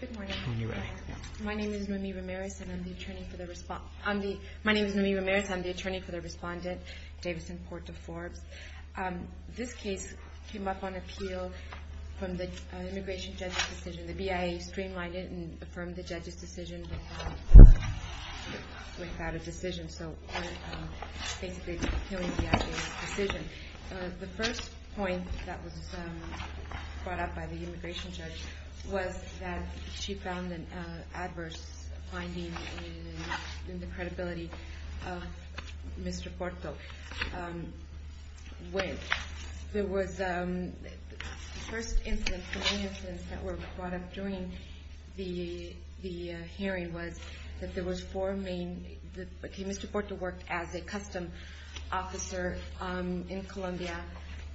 Good morning. My name is Noemi Ramirez and I'm the attorney for the respondent, Davison Porta-Forbes. This case came up on appeal from the immigration judge's decision. The BIA streamlined it and affirmed the judge's decision without a decision. The first point that was brought up by the immigration judge was that she found an adverse finding in the credibility of Mr. Porto. The first incidents that were brought up during the hearing was that Mr. Porto worked as a custom officer in Colombia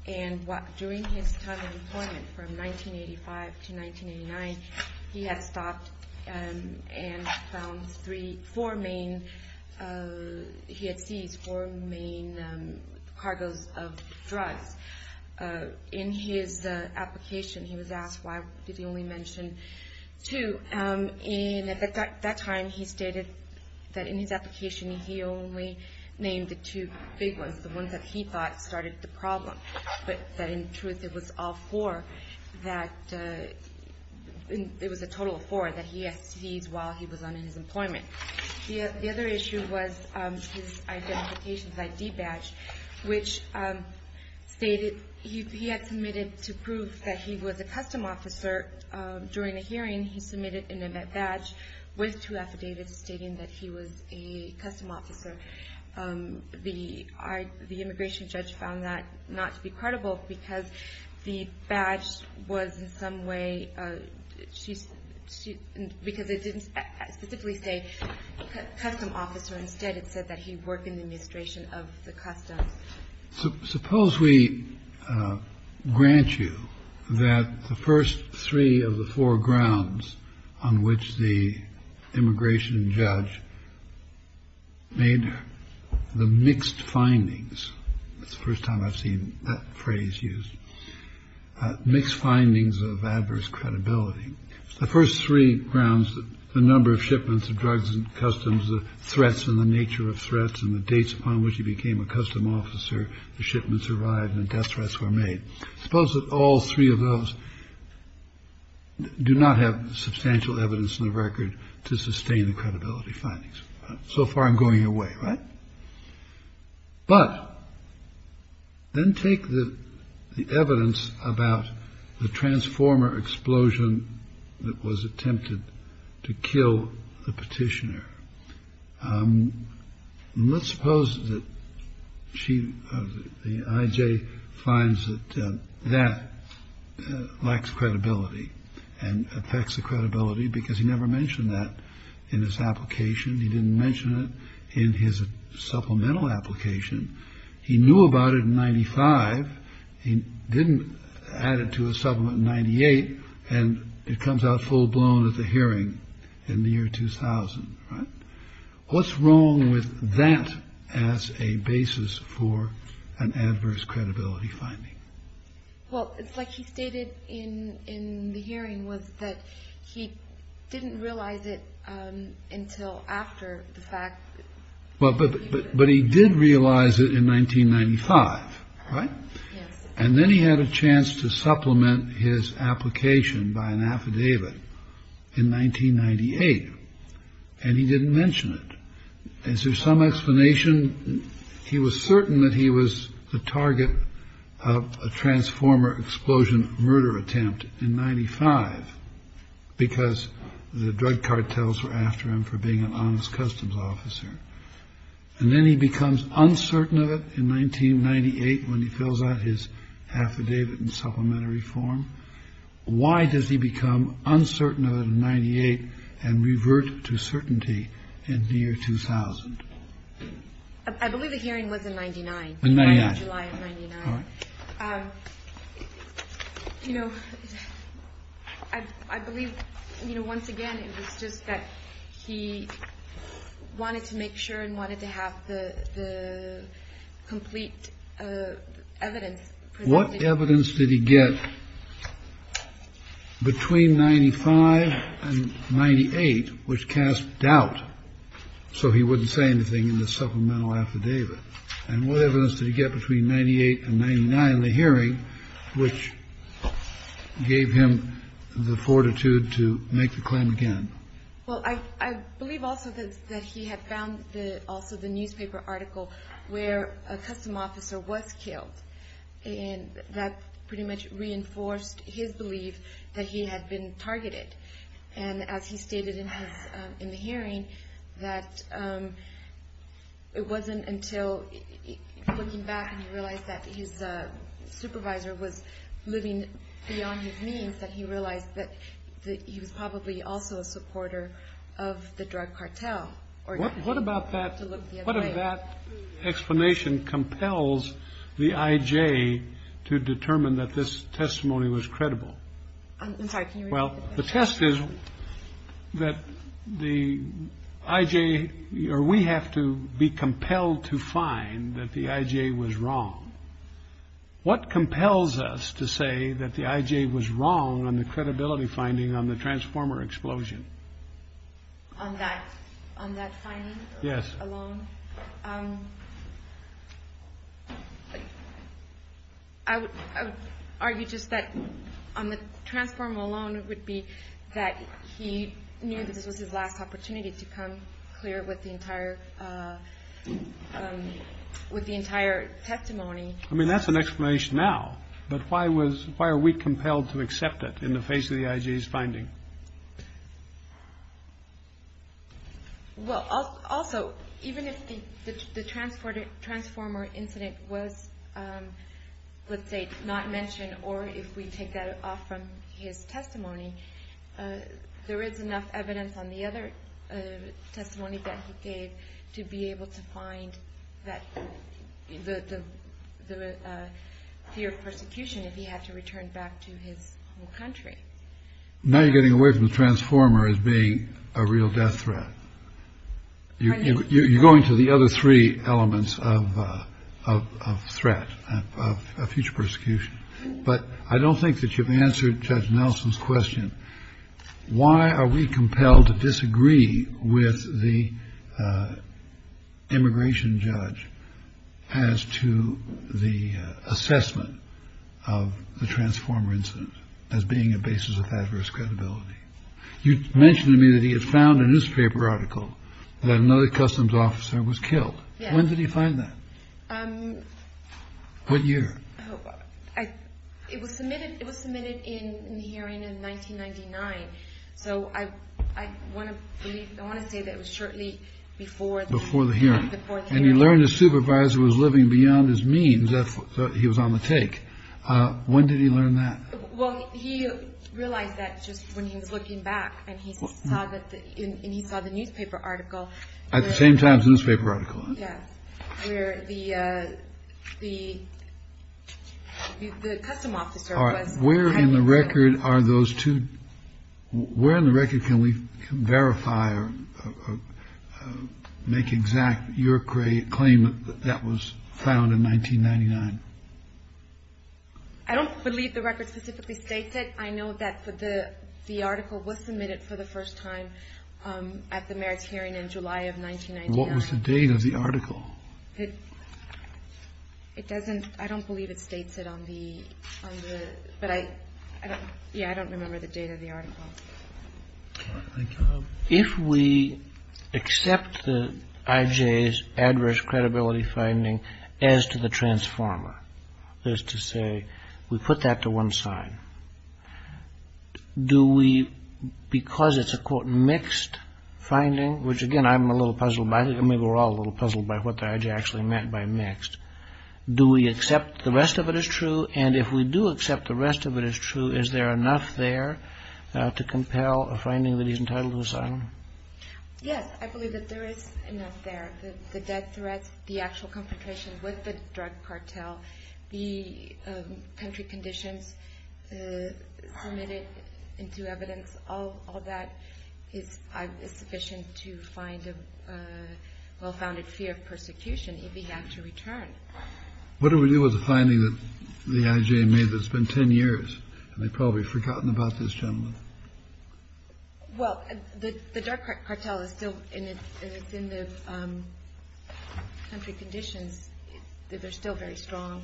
and during his time in employment from 1985 to 1989, he had stopped and found four main, he had seized four main cargos of drugs. In his application he was asked why did he only mention two. At that time he stated that in his application he only named the two big ones, the ones that he thought started the problem. But in truth it was a total of four that he seized while he was on his employment. The other issue was his identification ID badge, which he had submitted to prove that he was a custom officer. During the hearing he submitted an event badge with two affidavits stating that he was a custom officer. The immigration judge found that not to be credible because the badge was in some way, because it didn't specifically say custom officer, instead it said that he worked in the administration of the customs. Suppose we grant you that the first three of the four grounds on which the immigration judge made the mixed findings. It's the first time I've seen that phrase used. Mixed findings of adverse credibility. The first three grounds, the number of shipments of drugs and customs, the threats and the nature of threats and the dates upon which he became a custom officer, the shipments arrived and death threats were made. Suppose that all three of those do not have substantial evidence in the record to sustain the credibility findings. So far I'm going away. Right. But. Then take the evidence about the transformer explosion that was attempted to kill the petitioner. Let's suppose that the IJ finds that that lacks credibility and affects the credibility because he never mentioned that in his application. He didn't mention it in his supplemental application. He knew about it in 95. He didn't add it to a supplement 98. And it comes out full blown at the hearing in the year 2000. What's wrong with that as a basis for an adverse credibility finding? Well, it's like he stated in in the hearing was that he didn't realize it until after the fact. But but but he did realize it in 1995. Right. And then he had a chance to supplement his application by an affidavit in 1998. And he didn't mention it. Is there some explanation? He was certain that he was the target of a transformer explosion murder attempt in 95 because the drug cartels were after him for being an honest customs officer. And then he becomes uncertain of it in 1998 when he fills out his affidavit in supplementary form. Why does he become uncertain of it in 98 and revert to certainty in the year 2000? I believe the hearing was in 99. You know, I believe, you know, once again, it was just that he wanted to make sure and wanted to have the complete evidence. What evidence did he get between 95 and 98, which cast doubt so he wouldn't say anything in the supplemental affidavit? And what evidence did he get between 98 and 99, the hearing which gave him the fortitude to make the claim again? Well, I believe also that he had found the also the newspaper article where a custom officer was killed. And that pretty much reinforced his belief that he had been targeted. And as he stated in the hearing, that it wasn't until looking back and he realized that his supervisor was living beyond his means that he realized that he was probably also a supporter of the drug cartel. What about that? What of that explanation compels the IJ to determine that this testimony was credible? Well, the test is that the IJ or we have to be compelled to find that the IJ was wrong. What compels us to say that the IJ was wrong on the credibility finding on the transformer explosion? On that on that finding. Yes. Alone. I would argue just that on the transformer alone, it would be that he knew that this was his last opportunity to come clear with the entire with the entire testimony. I mean, that's an explanation now. But why was why are we compelled to accept it in the face of the IJ's finding? Well, also, even if the transporter transformer incident was, let's say, not mentioned or if we take that off from his testimony, there is enough evidence on the other testimony that he gave to be able to find that the fear of persecution if he had to return back to his country. Now you're getting away from the transformer as being a real death threat. You're going to the other three elements of a threat of future persecution. But I don't think that you've answered Judge Nelson's question. Why are we compelled to disagree with the immigration judge as to the assessment of the transformer incident as being a basis of adverse credibility? You mentioned to me that he had found a newspaper article that another customs officer was killed. When did he find that? What year? It was submitted. It was submitted in the hearing in 1999. So I want to say that it was shortly before. Before the hearing. And he learned the supervisor was living beyond his means. So he was on the take. When did he learn that? Well, he realized that just when he was looking back and he saw that he saw the newspaper article at the same time. Yeah. Where the the the custom officer was. Where in the record are those two? Where in the record can we verify or make exact your claim that that was found in 1999? I don't believe the record specifically states it. I know that the the article was submitted for the first time at the mayor's hearing in July of 1990. What was the date of the article? It doesn't. I don't believe it states it on the. But I don't. Yeah, I don't remember the date of the article. If we accept the IJ's adverse credibility finding as to the transformer, there's to say we put that to one side. Do we because it's a, quote, mixed finding, which, again, I'm a little puzzled by. I mean, we're all a little puzzled by what the IJ actually meant by mixed. Do we accept the rest of it is true? And if we do accept the rest of it is true, is there enough there to compel a finding that he's entitled to asylum? Yes, I believe that there is enough there. The death threats, the actual confrontation with the drug cartel, the country conditions submitted into evidence. All of that is sufficient to find a well-founded fear of persecution. If we have to return. What do we do with the finding that the IJ made that's been 10 years? And they probably forgotten about this gentleman. Well, the drug cartel is still in the country conditions. They're still very strong.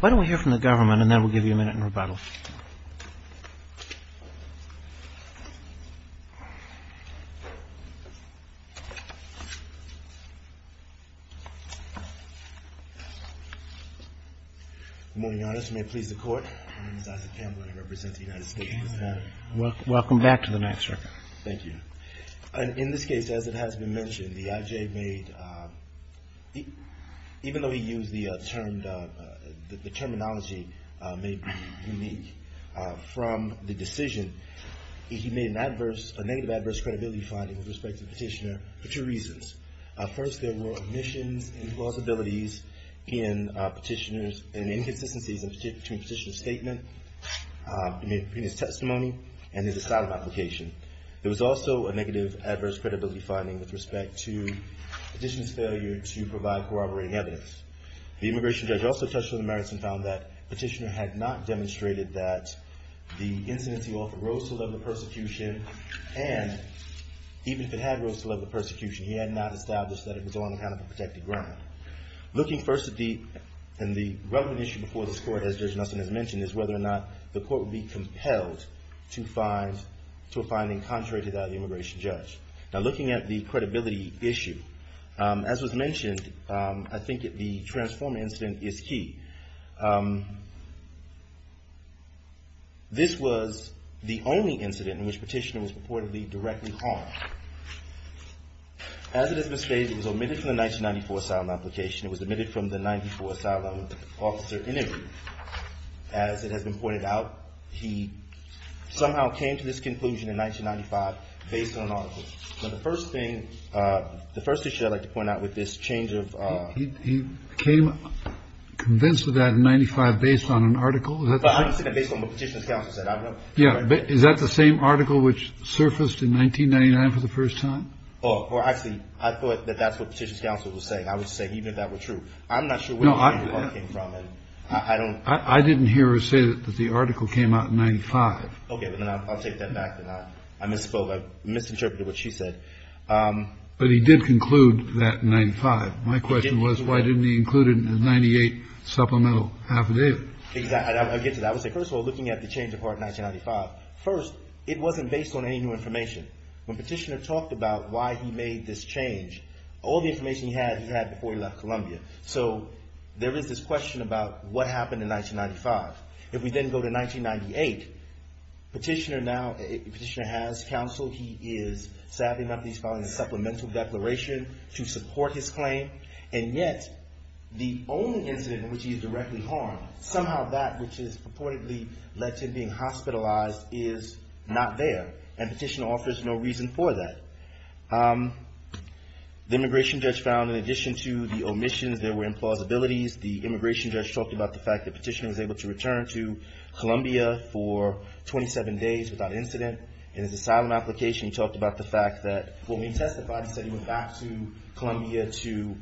Why don't we hear from the government and then we'll give you a minute in rebuttal. Good morning, Your Honor. May it please the Court. My name is Isaac Tamblyn. I represent the United States of America. Welcome back to the night, sir. Thank you. In this case, as it has been mentioned, the IJ made, even though he used the term, the terminology may be unique from the decision, he made a negative adverse credibility finding with respect to the petitioner for two reasons. First, there were omissions and plausibilities in petitioners and inconsistencies between the petitioner's statement, his testimony and his asylum application. There was also a negative adverse credibility finding with respect to the petitioner's failure to provide corroborating evidence. The immigration judge also touched on the merits and found that the petitioner had not demonstrated that the incidents he offered rose to the level of persecution and even if it had rose to the level of persecution, he had not established that it was on account of a protected ground. Looking first at the relevant issue before this Court, as Judge Nelson has mentioned, is whether or not the Court would be compelled to a finding contrary to that of the immigration judge. Now looking at the credibility issue, as was mentioned, I think the transformer incident is key. This was the only incident in which the petitioner was purportedly directly harmed. As it has been stated, it was omitted from the 1994 asylum application. It was omitted from the 94 asylum officer interview. As it has been pointed out, he somehow came to this conclusion in 1995 based on an article. So the first thing the first issue I'd like to point out with this change of he came convinced of that in 95 based on an article. Is that based on what Petitioner's counsel said? Yeah. Is that the same article which surfaced in 1999 for the first time? Oh, well, actually, I thought that that's what Petitioner's counsel was saying. I would say even if that were true. I'm not sure where that came from. And I don't I didn't hear her say that the article came out in 95. OK, but then I'll take that back. I misspoke. I misinterpreted what she said. But he did conclude that in 95. My question was, why didn't he include it in the 98 supplemental affidavit? I'll get to that. I would say, first of all, looking at the change of part 1995, first, it wasn't based on any new information. When Petitioner talked about why he made this change, all the information he had, he had before he left Columbia. So there is this question about what happened in 1995. If we then go to 1998, Petitioner now Petitioner has counsel. He is, sadly enough, he's following a supplemental declaration to support his claim. And yet the only incident in which he is directly harmed, somehow that which is purportedly led to being hospitalized is not there. And Petitioner offers no reason for that. The immigration judge found in addition to the omissions, there were implausibilities. The immigration judge talked about the fact that Petitioner was able to return to Columbia for 27 days without incident in his asylum application. He talked about the fact that when he testified, he said he went back to Columbia to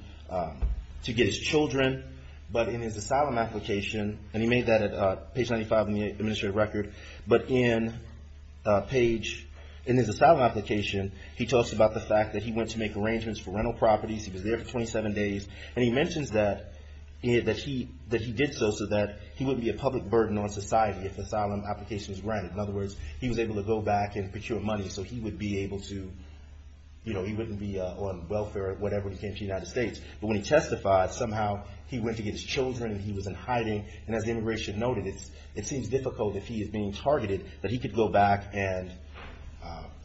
to get his children. But in his asylum application, and he made that at page 95 in the administrative record. But in his asylum application, he talks about the fact that he went to make arrangements for rental properties. He was there for 27 days. And he mentions that he did so so that he wouldn't be a public burden on society if the asylum application was granted. In other words, he was able to go back and procure money so he wouldn't be on welfare or whatever when he came to the United States. But when he testified, somehow he went to get his children and he was in hiding. And as the immigration noted, it seems difficult if he is being targeted that he could go back and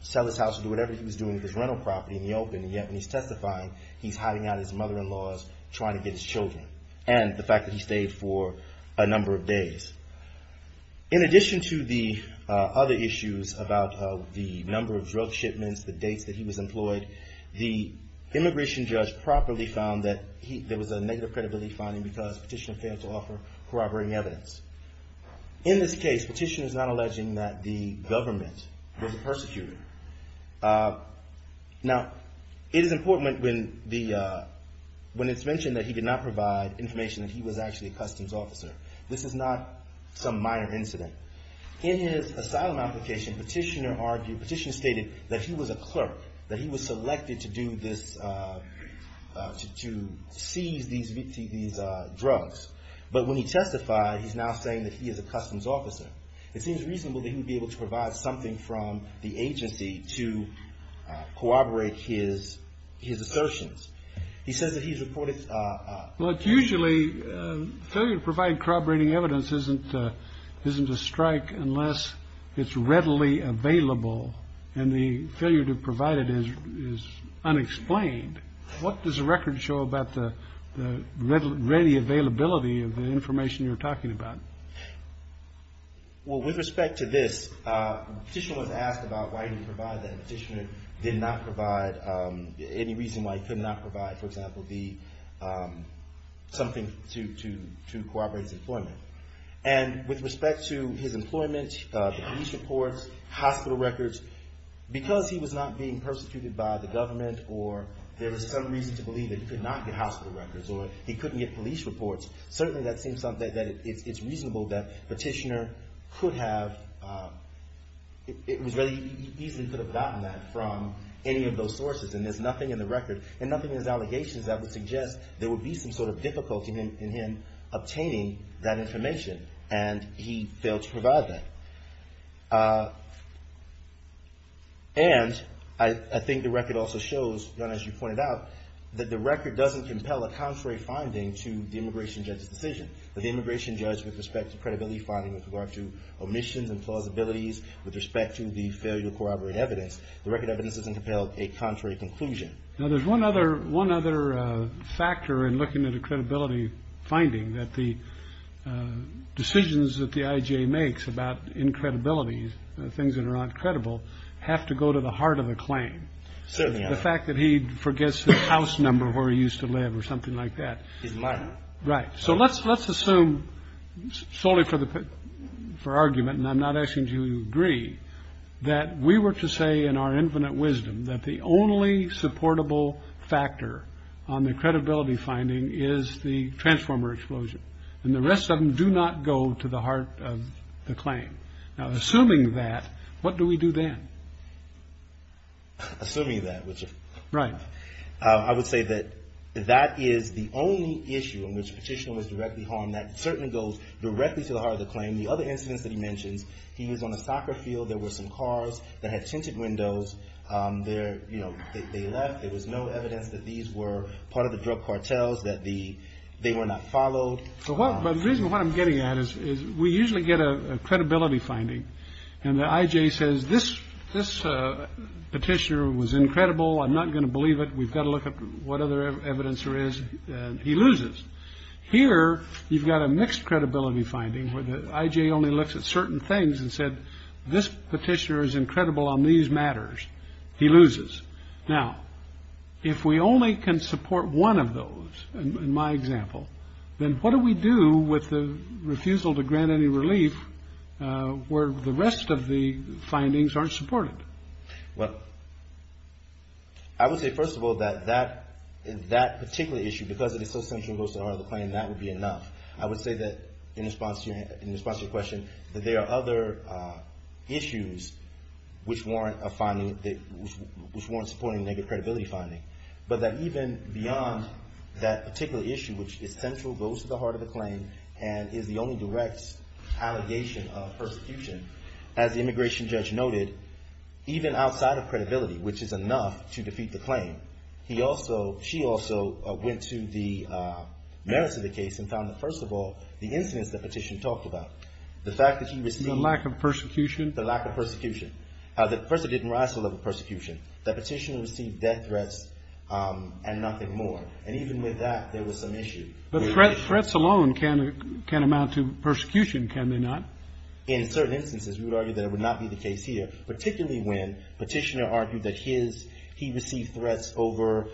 sell his house and do whatever he was doing with his rental property in the open. And yet when he's testifying, he's hiding out his mother-in-law's trying to get his children. And the fact that he stayed for a number of days. In addition to the other issues about the number of drug shipments, the dates that he was employed, the immigration judge properly found that there was a negative credibility finding because Petitioner failed to offer corroborating evidence. In this case, Petitioner is not alleging that the government was the persecutor. Now, it is important when it's mentioned that he did not provide information that he was actually a customs officer. This is not some minor incident. In his asylum application, Petitioner argued, Petitioner stated that he was a clerk, that he was selected to do this, to seize these drugs. But when he testified, he's now saying that he is a customs officer. It seems reasonable that he would be able to provide something from the agency to corroborate his assertions. He says that he's reported. Well, it's usually failure to provide corroborating evidence isn't a strike unless it's readily available. And the failure to provide it is unexplained. What does the record show about the readily availability of the information you're talking about? Well, with respect to this, Petitioner was asked about why he could not provide, for example, something to corroborate his employment. And with respect to his employment, police reports, hospital records, because he was not being persecuted by the government or there was some reason to believe that he could not get hospital records or he couldn't get police reports, certainly that seems something that it's reasonable that Petitioner could have, it was really, he easily could have gotten that from any of those sources. And there's nothing in the record and nothing in his allegations that would suggest there would be some sort of difficulty in him obtaining that information. And he failed to provide that. And I think the record also shows, as you pointed out, that the record doesn't compel a contrary finding to the immigration judge's decision. The immigration judge, with respect to credibility finding, with regard to omissions and plausibilities, with respect to the failure to corroborate evidence, the record evidence doesn't compel a contrary conclusion. Now, there's one other factor in looking at a credibility finding, that the decisions that the IJA makes about incredibilities, things that are not credible, have to go to the heart of the claim. The fact that he forgets the house number where he used to live or something like that. Right. So let's assume solely for argument, and I'm not asking you to agree, that we were to say in our infinite wisdom that the only supportable factor on the credibility finding is the transformer explosion. And the rest of them do not go to the heart of the claim. Assuming that, what do we do then? Assuming that. Right. I would say that that is the only issue in which petition was directly harmed. That certainly goes directly to the heart of the claim. The other instance that he mentions, he was on a soccer field. There were some cars that had tinted windows there. You know, they left. There was no evidence that these were part of the drug cartels, that the they were not followed. So what the reason what I'm getting at is, is we usually get a credibility finding. And the IJ says this this petitioner was incredible. I'm not going to believe it. We've got to look up what other evidence there is. He loses. Here you've got a mixed credibility finding where the IJ only looks at certain things and said this petitioner is incredible on these matters. He loses. Now, if we only can support one of those in my example, then what do we do with the refusal to grant any relief where the rest of the findings are supported? Well, I would say, first of all, that that particular issue, because it is so central and goes to the heart of the claim, that would be enough. I would say that in response to your question, that there are other issues which warrant supporting negative credibility finding. But that even beyond that particular issue, which is central, goes to the heart of the claim and is the only direct allegation of persecution, as the immigration judge noted, even outside of credibility, which is enough to defeat the claim, he also, she also went to the merits of the case and found that, first of all, the incidents the petition talked about, the fact that he received. The lack of persecution. The lack of persecution. First, it didn't rise to the level of persecution. The petitioner received death threats and nothing more. And even with that, there was some issue. But threats alone can amount to persecution, can they not? In certain instances, we would argue that it would not be the case here, particularly when petitioner argued that his, he received threats over,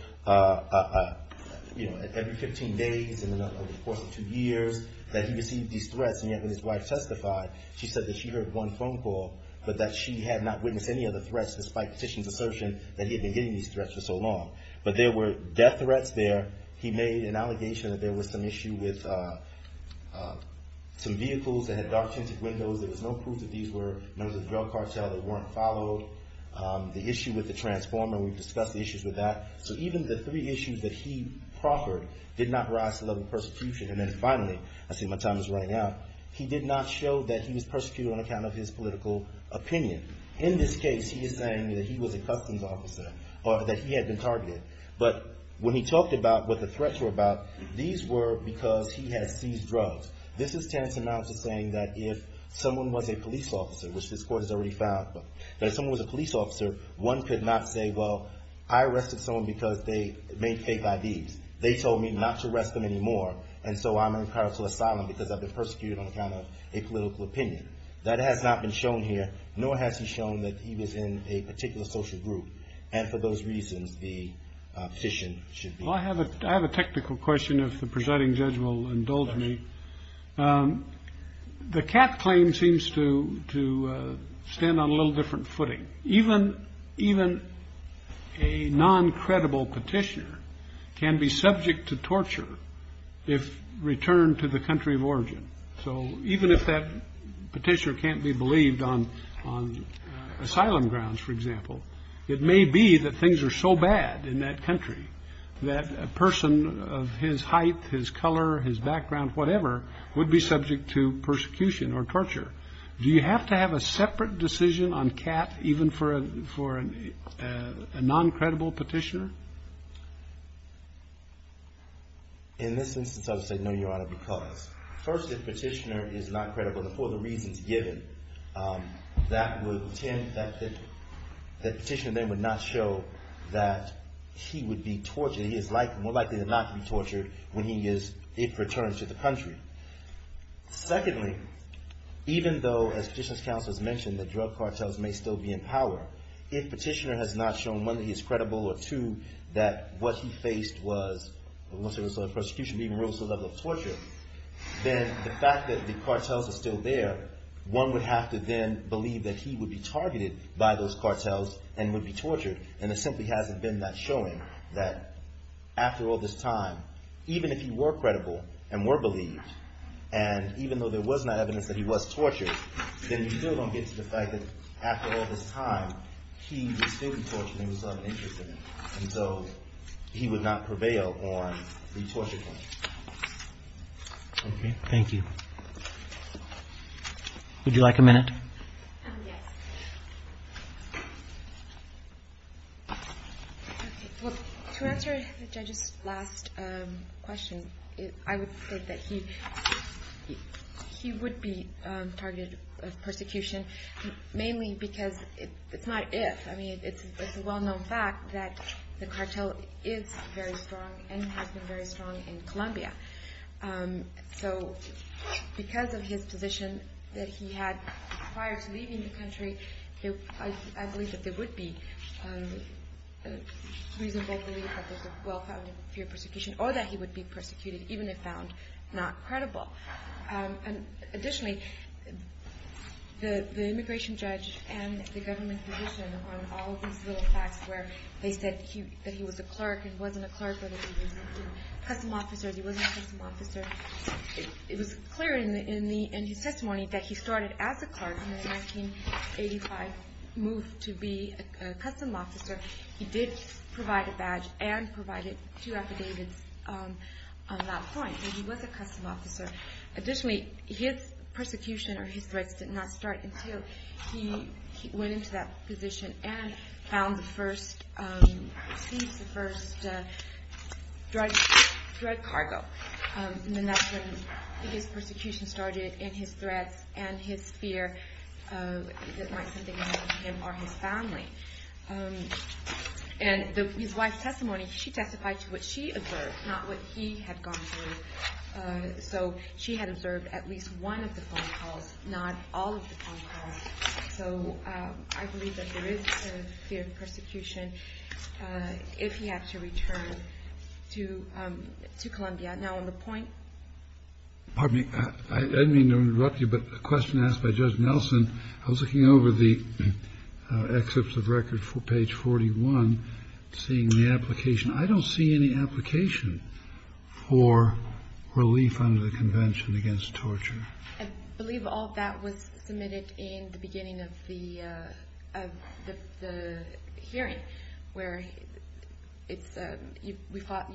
you know, every 15 days, in the course of two years, that he received these threats, and yet when his wife testified, she said that she heard one phone call, but that she had not witnessed any other threats, despite petitioner's assertion that he had been getting these threats for so long. But there were death threats there. He made an allegation that there was some issue with some vehicles that had dark tinted windows. There was no proof that these were members of the drug cartel that weren't followed. The issue with the transformer, we've discussed the issues with that. So even the three issues that he proffered did not rise to the level of persecution. And then finally, I see my time is running out, he did not show that he was persecuted on account of his political opinion. In this case, he is saying that he was a customs officer, or that he had been targeted. But when he talked about what the threats were about, these were because he had seized drugs. This is Tennyson Mounts saying that if someone was a police officer, which this court has already found, that if someone was a police officer, one could not say, well, I arrested someone because they made fake IDs. They told me not to arrest them anymore, and so I'm entitled to asylum because I've been persecuted on account of a political opinion. That has not been shown here, nor has he shown that he was in a particular social group. And for those reasons, the petition should be. Well, I have a I have a technical question, if the presiding judge will indulge me. The cat claim seems to to stand on a little different footing. Even even a non-credible petitioner can be subject to torture if returned to the country of origin. So even if that petitioner can't be believed on on asylum grounds, for example, it may be that things are so bad in that country that a person of his height, his color, his background, whatever, would be subject to persecution or torture. Do you have to have a separate decision on cat even for a for a non-credible petitioner? In this instance, I would say no, Your Honor, because first, if petitioner is not credible for the reasons given, that would tend that the petitioner then would not show that he would be tortured. He is like more likely to not be tortured when he is if returns to the country. Secondly, even though as petitioner's counsel has mentioned, the drug cartels may still be in power. If petitioner has not shown one, that he is credible, or two, that what he faced was, let's say it was a prosecution, but even rose to the level of torture, then the fact that the cartels are still there, one would have to then believe that he would be targeted by those cartels and would be tortured. And it simply hasn't been that showing that after all this time, even if he were credible and were believed, and even though there was not evidence that he was tortured, then you still don't get to the fact that after all this time, he was still being tortured and was uninterested, and so he would not prevail on the torture claim. Okay. Thank you. Would you like a minute? Yes. Well, to answer the judge's last question, I would say that he would be targeted of persecution, mainly because it's not if, I mean it's a well-known fact that the cartel is very strong and has been very strong in Colombia. So because of his position that he had prior to leaving the country, I believe that there would be reasonable belief that there's a well-founded fear of persecution, or that he would be persecuted even if found not credible. Additionally, the immigration judge and the government's position on all of these little facts where they said that he was a clerk and wasn't a clerk, whether he was a custom officer or he wasn't a custom officer, it was clear in his testimony that he started as a clerk and in 1985 moved to be a custom officer. He did provide a badge and provided two affidavits on that point, and he was a custom officer. Additionally, his persecution or his threats did not start until he went into that position and found the first, seized the first drug cargo. And that's when his persecution started and his threats and his fear that something might happen to him or his family. And his wife's testimony, she testified to what she observed, not what he had gone through. So she had observed at least one of the phone calls, not all of the phone calls. So I believe that there is a fear of persecution if he had to return to Columbia. Now on the point. Pardon me, I didn't mean to interrupt you, but a question asked by Judge Nelson. I was looking over the excerpts of record for page 41, seeing the application. I don't see any application for relief under the Convention against Torture. I believe all of that was submitted in the beginning of the hearing where it's, we filed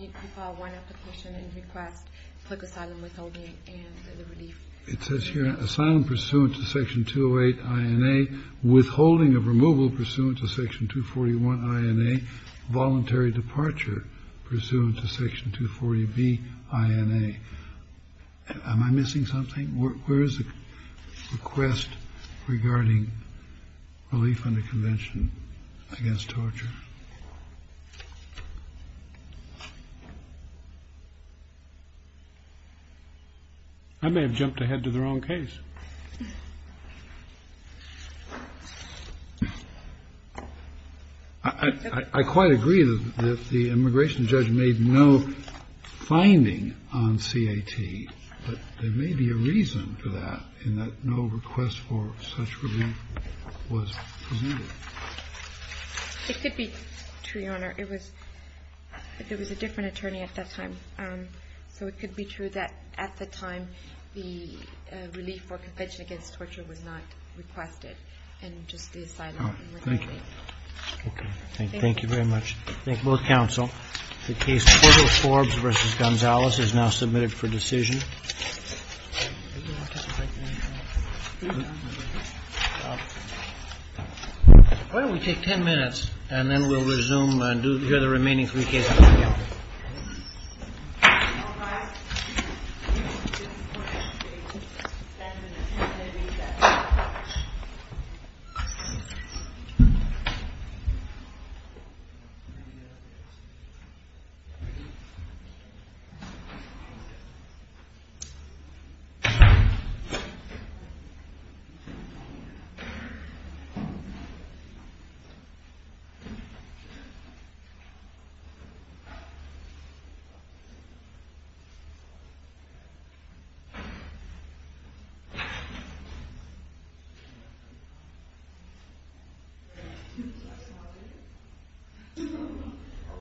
one application and request for asylum withholding and the relief. It says here, asylum pursuant to Section 208 INA, withholding of removal pursuant to Section 241 INA, voluntary departure pursuant to Section 240B INA. Am I missing something? Where is the request regarding relief under Convention against Torture? I may have jumped ahead to the wrong case. I quite agree that the immigration judge made no finding on CAT, but there may be a reason for that in that no request for such relief was presented. It could be true, Your Honor. It was, there was a different attorney at that time. So it could be true that at the time the relief for Convention against Torture was not requested, and just the asylum withholding. Thank you. Okay. Thank you very much. Thank both counsel. The case Portals, Forbes v. Gonzales is now submitted for decision. Why don't we take 10 minutes and then we'll resume and do the remaining three cases together. Thank you.